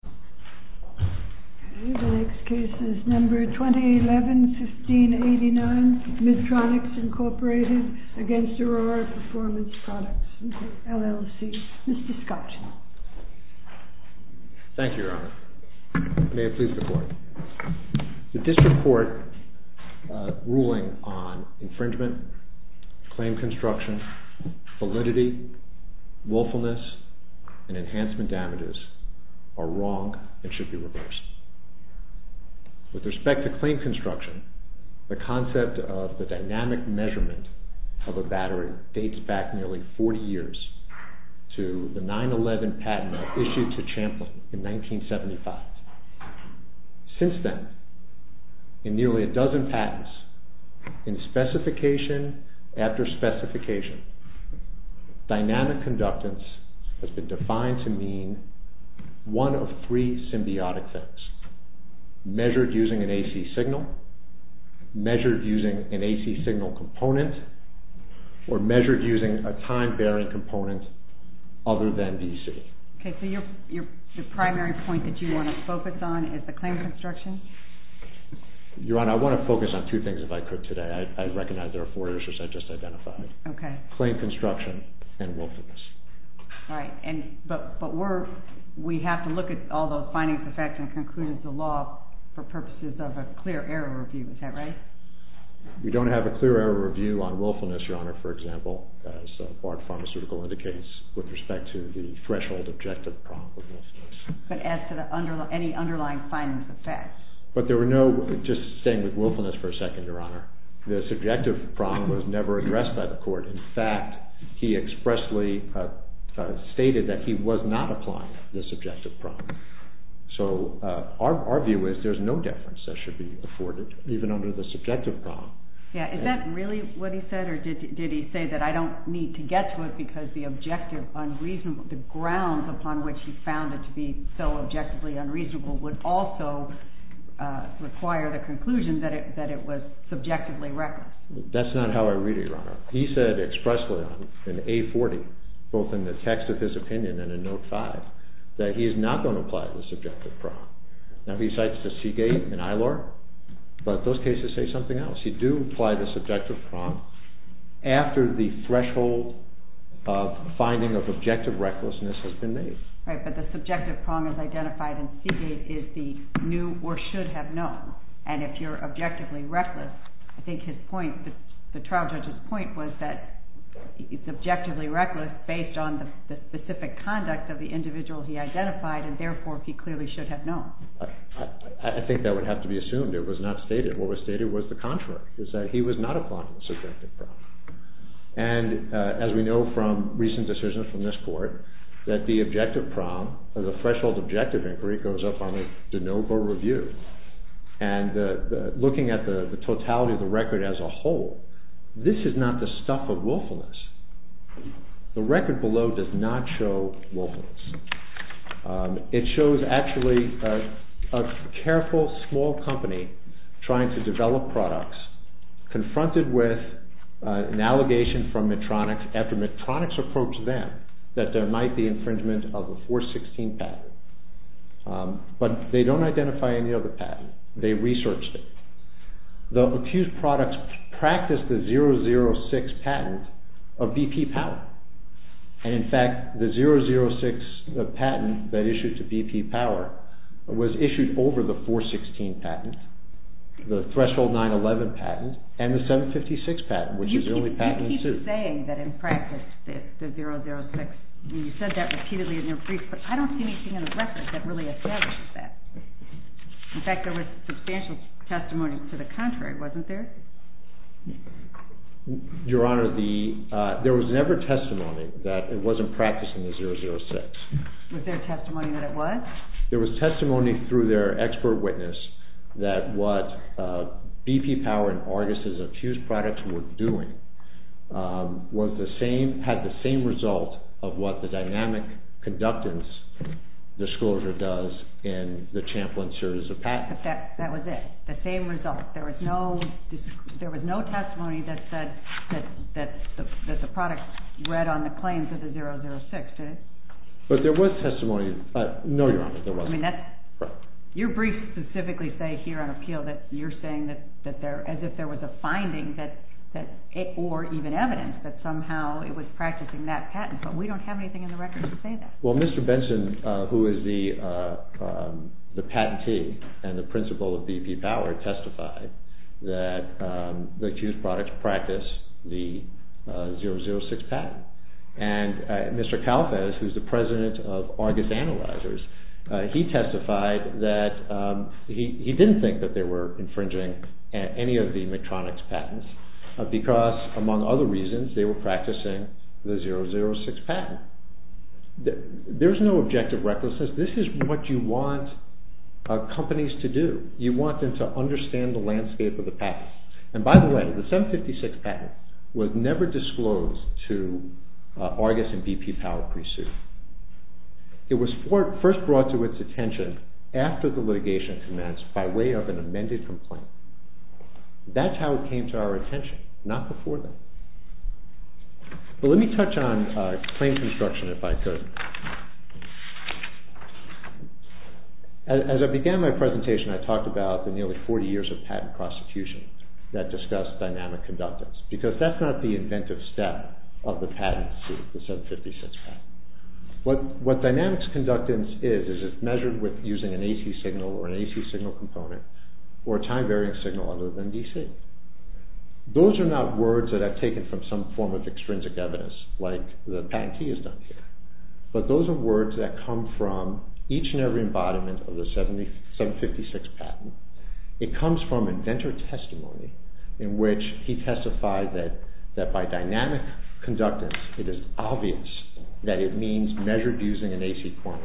PRODUCTS, LLC. Mr. Scottson. Thank you, Your Honor. May it please the Court. The District Court ruling on infringement, claim construction, validity, willfulness, and enhancement damages are wrong and should be reversed. With respect to claim construction, the concept of the dynamic measurement of a battery dates back nearly 40 years to the 9-11 patent issued to Champlin in 1975. Since then, in nearly a dozen patents, in specification after specification, dynamic conductance has been defined to mean one of three symbiotic things. Measured using an AC signal, measured using an AC signal component, or measured using a time-bearing component other than DC. Okay, so your primary point that you want to focus on is the claim construction? Your Honor, I want to focus on two things if I could today. I recognize there are four issues I just identified. Okay. Claim construction and willfulness. Right, but we have to look at all those findings, effects, and conclusions of the law for purposes of a clear error review. Is that right? We don't have a clear error review on willfulness, Your Honor, for example, as BART Pharmaceutical indicates with respect to the threshold objective problem. But as to any underlying findings, effects? But there were no, just staying with willfulness for a second, Your Honor. The subjective problem was never addressed by the court. In fact, he expressly stated that he was not applying the subjective problem. So our view is there's no deference that should be afforded, even under the subjective problem. Yeah, is that really what he said, or did he say that I don't need to get to it because the objective unreasonable, the grounds upon which he found it to be so objectively unreasonable would also require the conclusion that it was subjectively reckless? That's not how I read it, Your Honor. He said expressly in A40, both in the text of his opinion and in Note 5, that he is not going to apply the subjective problem. Now he cites the Seagate and ILR, but those cases say something else. He do apply the subjective problem after the threshold of finding of objective recklessness has been made. Right, but the subjective problem is identified and Seagate is the new or should have known. And if you're objectively reckless, I think his point, the trial judge's point was that he's objectively reckless based on the specific conduct of the individual he identified and therefore he clearly should have known. I think that would have to be assumed. It was not stated. What was stated was the contrary, is that he was not applying the subjective problem. And as we know from recent decisions from this court, that the objective problem, the threshold objective inquiry goes up on the de novo review. And looking at the totality of the record as a whole, this is not the stuff of willfulness. The record below does not show willfulness. It shows actually a careful small company trying to develop products, confronted with an allegation from Medtronic, after Medtronic approached them, that there might be infringement of the 416 patent. But they don't identify any other patent. They researched it. The accused products practiced the 006 patent of BP Power. And in fact, the 006 patent that issued to BP Power was issued over the 416 patent, the threshold 911 patent and the 756 patent, which is the only patent in suit. You're saying that in practice, the 006, you said that repeatedly in your brief, but I don't see anything in the record that really establishes that. In fact, there was substantial testimony to the contrary, wasn't there? Your Honor, there was never testimony that it wasn't practiced in the 006. Was there testimony that it was? There was testimony through their expert witness that what BP Power and Argus' accused products were doing had the same result of what the dynamic conductance disclosure does in the Champlin series of patents. But that was it, the same result. There was no testimony that the product read on the claims of the 006, did it? But there was testimony. No, Your Honor, there wasn't. Your briefs specifically say here on appeal that you're saying that as if there was a finding or even evidence that somehow it was practicing that patent, but we don't have anything in the record to say that. Well, Mr. Benson, who is the patentee and the principal of BP Power, testified that the accused products practiced the 006 patent. And Mr. Calafes, who is the president of Argus Analyzers, he testified that he didn't think that they were infringing any of the McTronix patents because, among other reasons, they were practicing the 006 patent. There's no objective recklessness. This is what you want companies to do. You want them to understand the landscape of the patent. And by the way, the 756 patent was never disclosed to Argus and BP Power pre-suit. It was first brought to its attention after the litigation commenced by way of an amended complaint. That's how it came to our attention, not before that. But let me touch on claim construction if I could. As I began my presentation, I talked about the nearly 40 years of patent prosecution that discussed dynamic conductance, because that's not the inventive step of the patent suit, the 756 patent. What dynamics conductance is, is it's measured with using an AC signal or an AC signal component or a time-varying signal other than DC. Those are not words that I've taken from some form of extrinsic evidence, like the patentee has done here. But those are words that come from each and every embodiment of the 756 patent. It comes from inventor testimony in which he testified that by dynamic conductance it is obvious that it means measured using an AC point.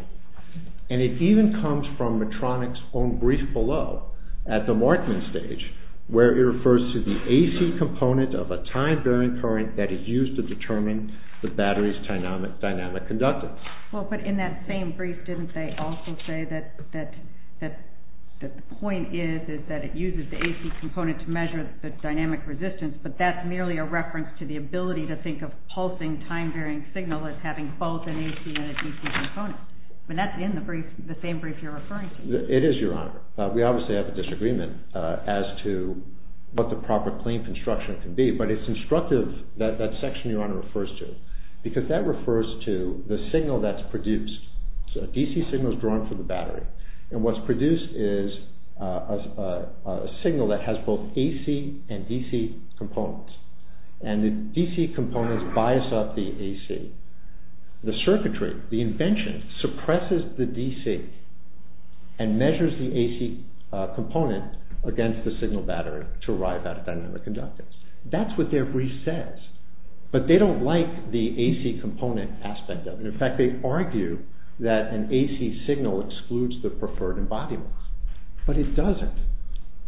And it even comes from Medtronic's own brief below at the Markman stage, where it refers to the AC component of a time-varying current that is used to determine the battery's dynamic conductance. But in that same brief, didn't they also say that the point is that it uses the AC component to measure the dynamic resistance, but that's merely a reference to the ability to think of pulsing time-varying signal as having both an AC and a DC component. That's in the same brief you're referring to. It is, Your Honor. We obviously have a disagreement as to what the proper claim construction can be, but it's instructive that that section Your Honor refers to, because that refers to the signal that's produced. A DC signal is drawn from the battery, and what's produced is a signal that has both AC and DC components. And the DC components bias up the AC. The circuitry, the invention, suppresses the DC and measures the AC component against the signal battery to arrive at a dynamic conductance. That's what their brief says, but they don't like the AC component aspect of it. In fact, they argue that an AC signal excludes the preferred embodiments, but it doesn't.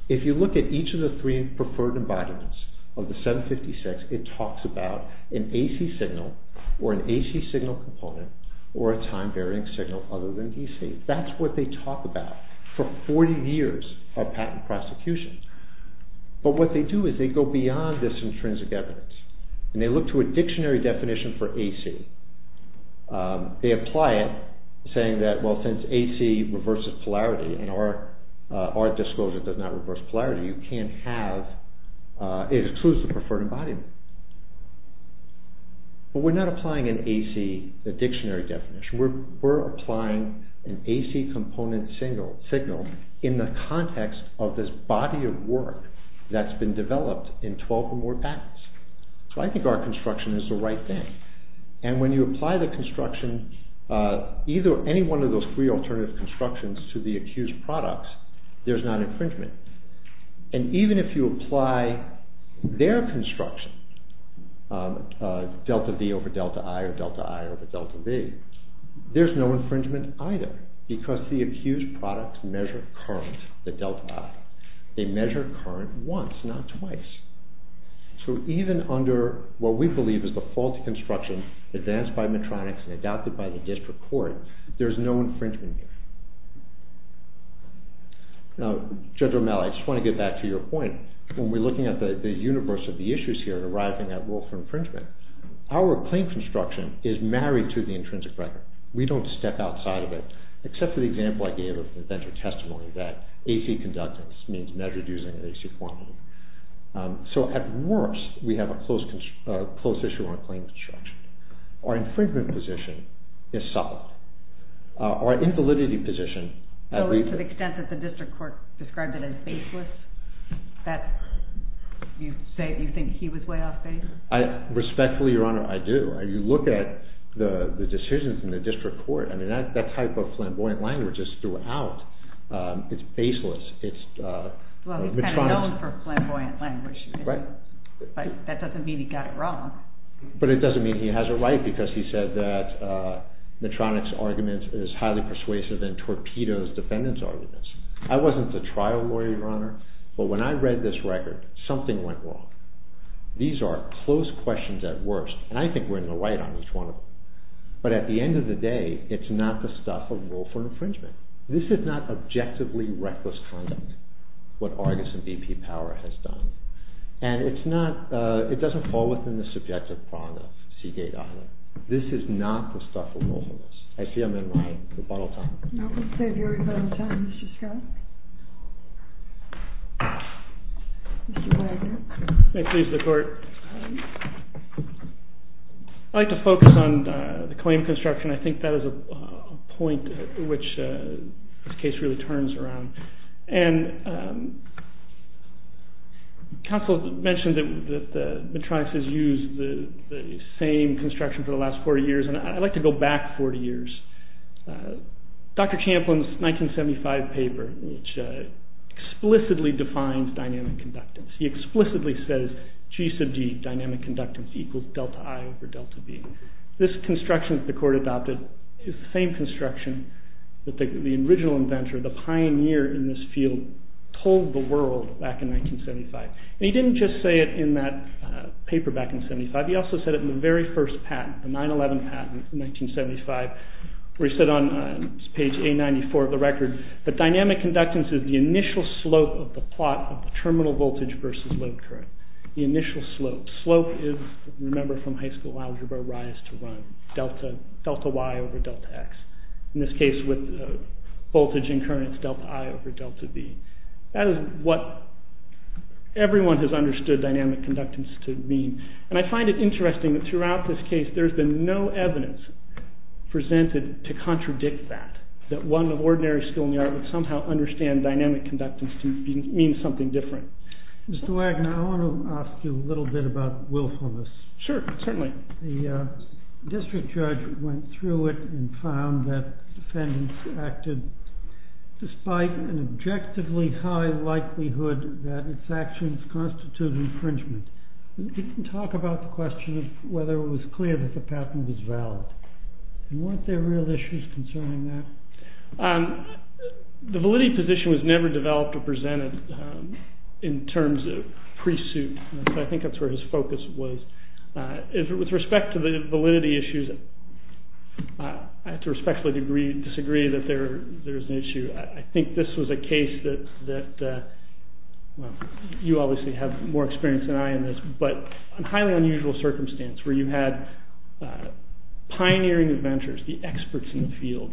If you look at each of the three preferred embodiments of the 756, it talks about an AC signal or an AC signal component or a time-varying signal other than DC. That's what they talk about for 40 years of patent prosecution. But what they do is they go beyond this intrinsic evidence, and they look to a dictionary definition for AC. They apply it, saying that, well, since AC reverses polarity and our disclosure does not reverse polarity, you can't have, it excludes the preferred embodiment. But we're not applying an AC, a dictionary definition. We're applying an AC component signal in the context of this body of work that's been developed in 12 or more patents. So I think our construction is the right thing. And when you apply the construction, any one of those three alternative constructions to the accused products, there's not infringement. And even if you apply their construction, delta V over delta I or delta I over delta V, there's no infringement either because the accused products measure current, the delta I. They measure current once, not twice. So even under what we believe is the faulty construction advanced by Medtronic and adopted by the district court, there's no infringement here. Now, Judge Romero, I just want to get back to your point. When we're looking at the universe of the issues here and arriving at rule for infringement, our claim construction is married to the intrinsic record. We don't step outside of it, except for the example I gave of the venture testimony that AC conductance means measured using AC formula. So at worst, we have a close issue on claim construction. Our infringement position is supple. Our invalidity position... So to the extent that the district court described it as faceless, that you think he was way off base? Respectfully, Your Honor, I do. You look at the decisions in the district court. I mean, that type of flamboyant language is throughout. It's baseless. Well, he's kind of known for flamboyant language. Right. But that doesn't mean he got it wrong. But it doesn't mean he has it right because he said that Medtronic's argument is highly persuasive and Torpedo's defendant's argument is. I wasn't the trial lawyer, Your Honor, but when I read this record, something went wrong. These are close questions at worst, and I think we're in the right on each one of them. But at the end of the day, it's not the stuff of lawful infringement. This is not objectively reckless conduct, what Argus and BP Power has done. And it's not... It doesn't fall within the subjective prong of Seagate Island. This is not the stuff of lawfulness. I see I'm in line. Rebuttal time. No, we'll save your rebuttal time, Mr. Scott. Mr. Wagner. May it please the court. I'd like to focus on the claim construction. I think that is a point which this case really turns around. And counsel mentioned that Medtronic has used the same construction for the last 40 years, and I'd like to go back 40 years. Dr. Champlin's 1975 paper, which explicitly defines dynamic conductance, he explicitly says G sub D, dynamic conductance, equals delta I over delta B. This construction that the court adopted is the same construction that the original inventor, the pioneer in this field, told the world back in 1975. And he didn't just say it in that paper back in 1975. He also said it in the very first patent, the 9-11 patent in 1975, where he said on page A-94 of the record that dynamic conductance is the initial slope of the plot of the terminal voltage versus load current. The initial slope. Slope is, remember from high school algebra, rise to run. Delta Y over delta X. In this case, with voltage and current, it's delta I over delta B. That is what everyone has understood dynamic conductance to mean. And I find it interesting that throughout this case there's been no evidence presented to contradict that, that one of ordinary skill in the art of somehow understanding dynamic conductance to mean something different. Mr. Wagner, I want to ask you a little bit about willfulness. Sure, certainly. The district judge went through it and found that defendants acted despite an objectively high likelihood that its actions constitute infringement. He didn't talk about the question of whether it was clear that the patent was valid. Weren't there real issues concerning that? The validity position was never developed or presented in terms of pre-suit. I think that's where his focus was. With respect to the validity issues, I have to respectfully disagree that there is an issue. I think this was a case that, well, you obviously have more experience than I in this, but a highly unusual circumstance where you had pioneering inventors, the experts in the field.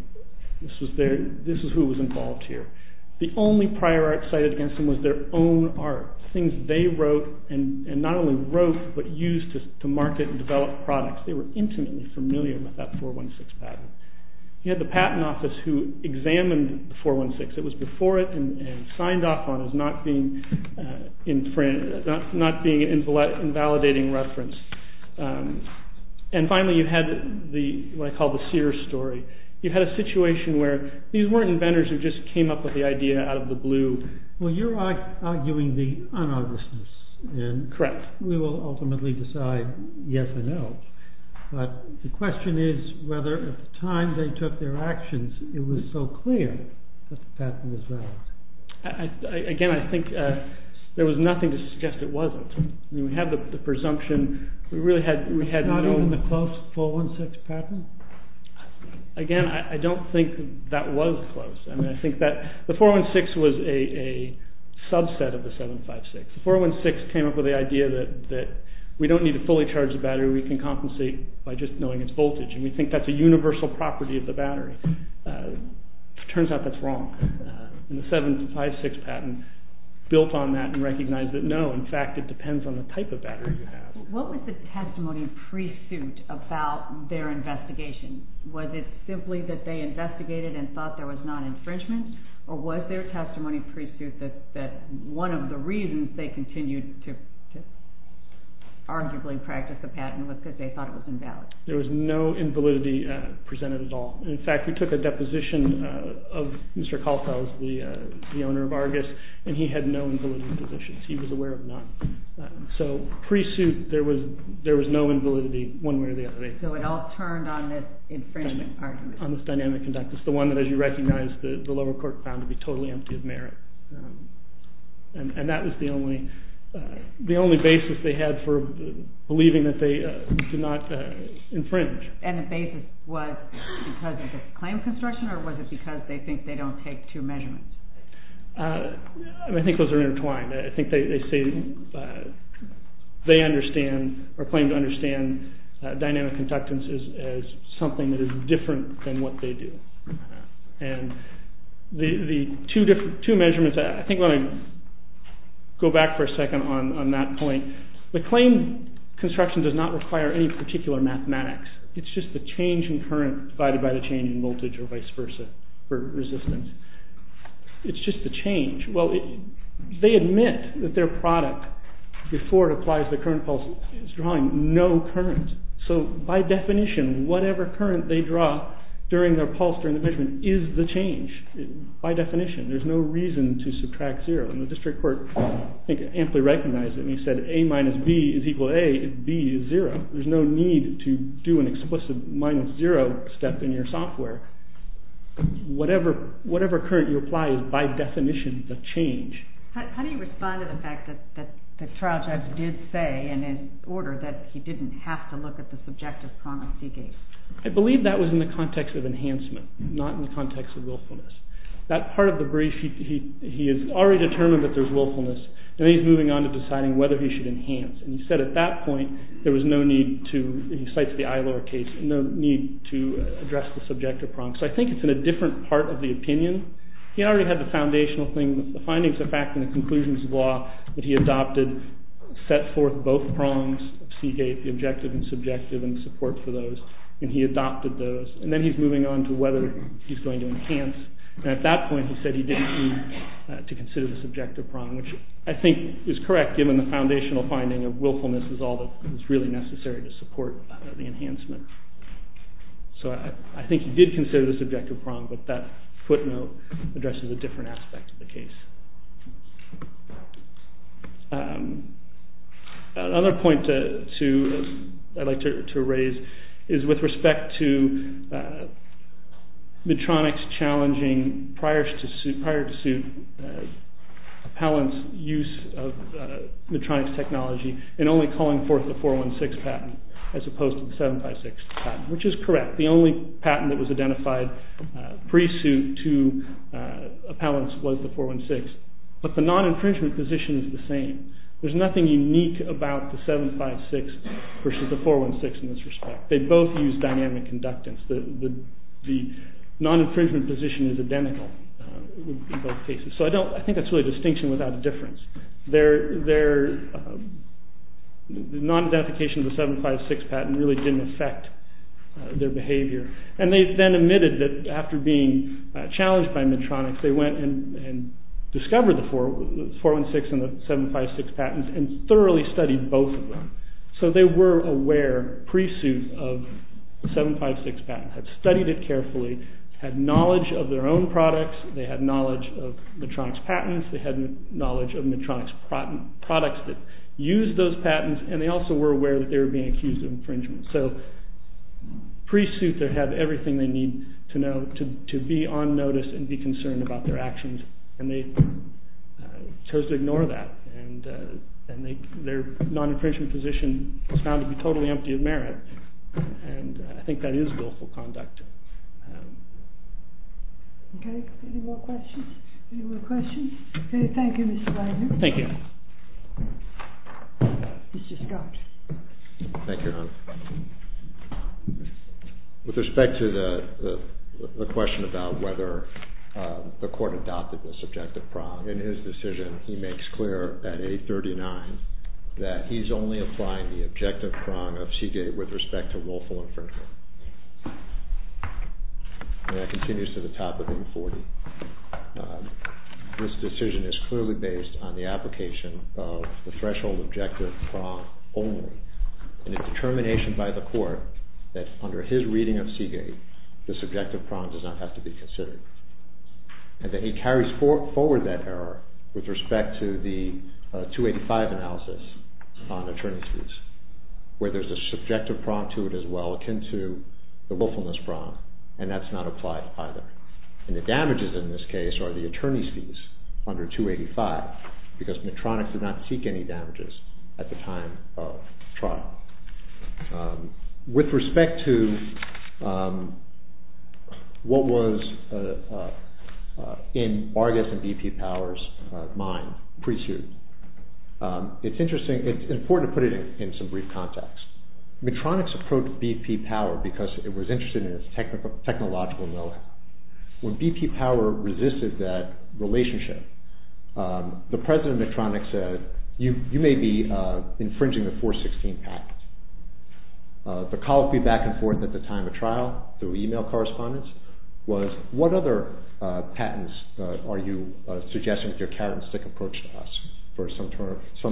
This is who was involved here. The only prior art cited against them was their own art, things they wrote and not only wrote but used to market and develop products. They were intimately familiar with that 416 patent. You had the Patent Office who examined the 416. It was before it and signed off on as not being an invalidating reference. Finally, you had what I call the Sears story. You had a situation where these weren't inventors who just came up with the idea out of the blue. You're arguing the un-obviousness. Correct. We will ultimately decide yes or no. The question is whether at the time they took their actions it was so clear that the patent was valid. Again, I think there was nothing to suggest it wasn't. We had the presumption. Not even the close 416 patent? Again, I don't think that was close. The 416 was a subset of the 756. The 416 came up with the idea that we don't need to fully charge the battery. We can compensate by just knowing its voltage. We think that's a universal property of the battery. It turns out that's wrong. The 756 patent built on that and recognized that no, in fact, it depends on the type of battery you have. What was the testimony pre-suit about their investigation? Was it simply that they investigated and thought there was non-infringement? Or was their testimony pre-suit that one of the reasons they continued to arguably practice the patent was because they thought it was invalid? There was no invalidity presented at all. In fact, we took a deposition of Mr. Kaufhaus, the owner of Argus, and he had no invalidity positions. He was aware of none. So pre-suit, there was no invalidity one way or the other. So it all turned on this infringement argument. On this dynamic conduct. It's the one that, as you recognize, the lower court found to be totally empty of merit. And that was the only basis they had for believing that they did not infringe. And the basis was because of this claim construction, or was it because they think they don't take two measurements? I think those are intertwined. I think they claim to understand dynamic conductance as something that is different than what they do. And the two measurements, I think I want to go back for a second on that point. The claim construction does not require any particular mathematics. It's just the change in current divided by the change in voltage or vice versa for resistance. It's just the change. Well, they admit that their product, before it applies the current pulse, is drawing no current. So by definition, whatever current they draw during their pulse during the measurement is the change. By definition. There's no reason to subtract zero. And the district court, I think, amply recognized it. And he said A minus B is equal to A if B is zero. There's no need to do an explicit minus zero step in your software. Whatever current you apply is, by definition, the change. How do you respond to the fact that the trial judge did say in an order that he didn't have to look at the subjective promising case? I believe that was in the context of enhancement, not in the context of willfulness. That part of the brief, he has already determined that there's willfulness, and he's moving on to deciding whether he should enhance. And he said at that point, there was no need to, he cites the Eilor case, no need to address the subjective prongs. So I think it's in a different part of the opinion. He already had the foundational thing, the findings of fact and the conclusions of law that he adopted, set forth both prongs of CK, the objective and subjective, and the support for those. And he adopted those. And then he's moving on to whether he's going to enhance. And at that point, he said he didn't need to consider the subjective prong, which I think is correct, given the foundational finding of willfulness is all that is really necessary to support the enhancement. So I think he did consider the subjective prong, but that footnote addresses a different aspect of the case. Another point I'd like to raise is with respect to Medtronic's challenging, prior to suit, appellant's use of Medtronic's technology in only calling forth the 416 patent as opposed to the 756 patent, which is correct. The only patent that was identified pre-suit to appellants was the 416. But the non-infringement position is the same. There's nothing unique about the 756 versus the 416 in this respect. They both use dynamic conductance. The non-infringement position is identical in both cases. So I think that's really a distinction without a difference. Their non-identification of the 756 patent really didn't affect their behavior. And they then admitted that after being challenged by Medtronic, they went and discovered the 416 and the 756 patents and thoroughly studied both of them. So they were aware pre-suit of the 756 patent, had studied it carefully, had knowledge of their own products, they had knowledge of Medtronic's patents, they had knowledge of Medtronic's products that used those patents, and they also were aware that they were being accused of infringement. So pre-suit, they had everything they need to know to be on notice and be concerned about their actions, and they chose to ignore that. And their non-infringement position was found to be totally empty of merit. And I think that is willful conduct. Okay. Any more questions? Any more questions? Okay, thank you, Mr. Wagner. Thank you. Mr. Scott. Thank you, Your Honor. With respect to the question about whether the court adopted this objective prong, in his decision he makes clear at 839 that he's only applying the objective prong of Seagate with respect to willful infringement. And that continues to the top of 840. This decision is clearly based on the application of the threshold objective prong only, and it's determination by the court that under his reading of Seagate, this objective prong does not have to be considered. And that he carries forward that error with respect to the 285 analysis on attorney's fees, where there's a subjective prong to it as well, akin to the willfulness prong, and that's not applied either. And the damages in this case are the attorney's fees under 285, because Medtronic did not seek any damages at the time of trial. With respect to what was in Vargas and BP Powers' mind pre-suit, it's important to put it in some brief context. Medtronic's approach to BP Power, because it was interested in its technological know-how. When BP Power resisted that relationship, the president of Medtronic said, you may be infringing the 416 patent. The call would be back and forth at the time of trial, through email correspondence, was what other patents are you suggesting with your characteristic approach to us for some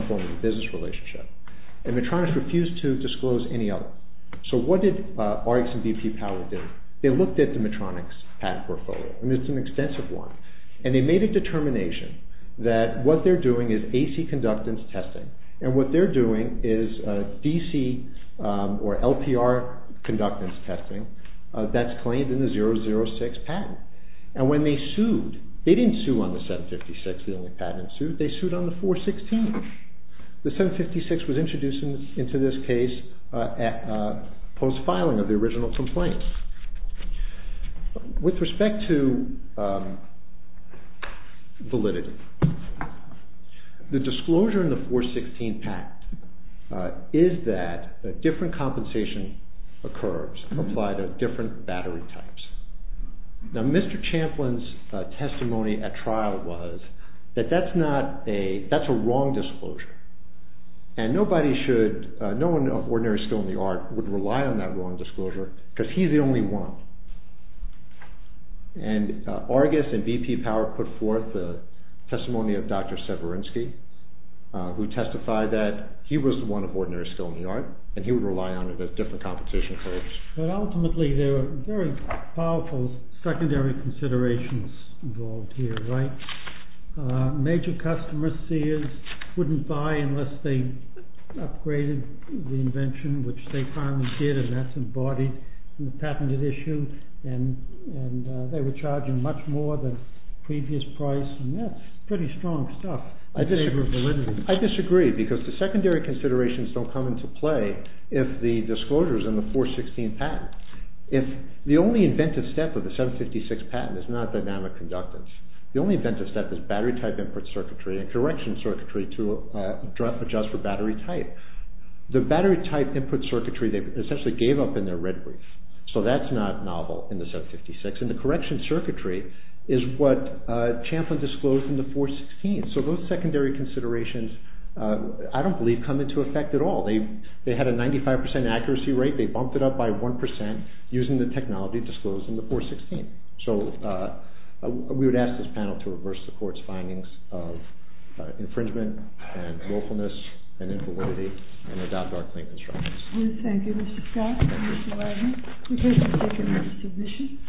form of business relationship? And Medtronic refused to disclose any other. So what did RX and BP Power do? They looked at the Medtronic's patent portfolio, and it's an extensive one, and they made a determination that what they're doing is AC conductance testing, and what they're doing is DC or LPR conductance testing that's claimed in the 006 patent. And when they sued, they didn't sue on the 756, the only patent sued, they sued on the 416. The 756 was introduced into this case post-filing of the original complaint. With respect to validity, the disclosure in the 416 patent is that a different compensation occurs, applied to different battery types. Now, Mr. Champlin's testimony at trial was that that's a wrong disclosure, and nobody should, no one of ordinary skill in the art would rely on that wrong disclosure because he's the only one. And Argus and BP Power put forth the testimony of Dr. Severinsky, who testified that he was the one of ordinary skill in the art, and he would rely on it as different compensation occurs. But ultimately, there are very powerful secondary considerations involved here, right? Major customer seers wouldn't buy unless they upgraded the invention, which they finally did, and that's embodied in the patented issue, and they were charging much more than previous price, and that's pretty strong stuff in favor of validity. I disagree, because the secondary considerations don't come into play if the disclosure is in the 416 patent. If the only inventive step of the 756 patent is not dynamic conductance, the only inventive step is battery type input circuitry and correction circuitry to adjust for battery type. The battery type input circuitry they essentially gave up in their red brief, so that's not novel in the 756. And the correction circuitry is what Champlin disclosed in the 416. So those secondary considerations, I don't believe, come into effect at all. They had a 95% accuracy rate. They bumped it up by 1% using the technology disclosed in the 416. So we would ask this panel to reverse the Court's findings of infringement and willfulness and inferiority and adopt our clean constructions. Thank you, Mr. Scott and Mr. Wagner. We thank you for taking this submission.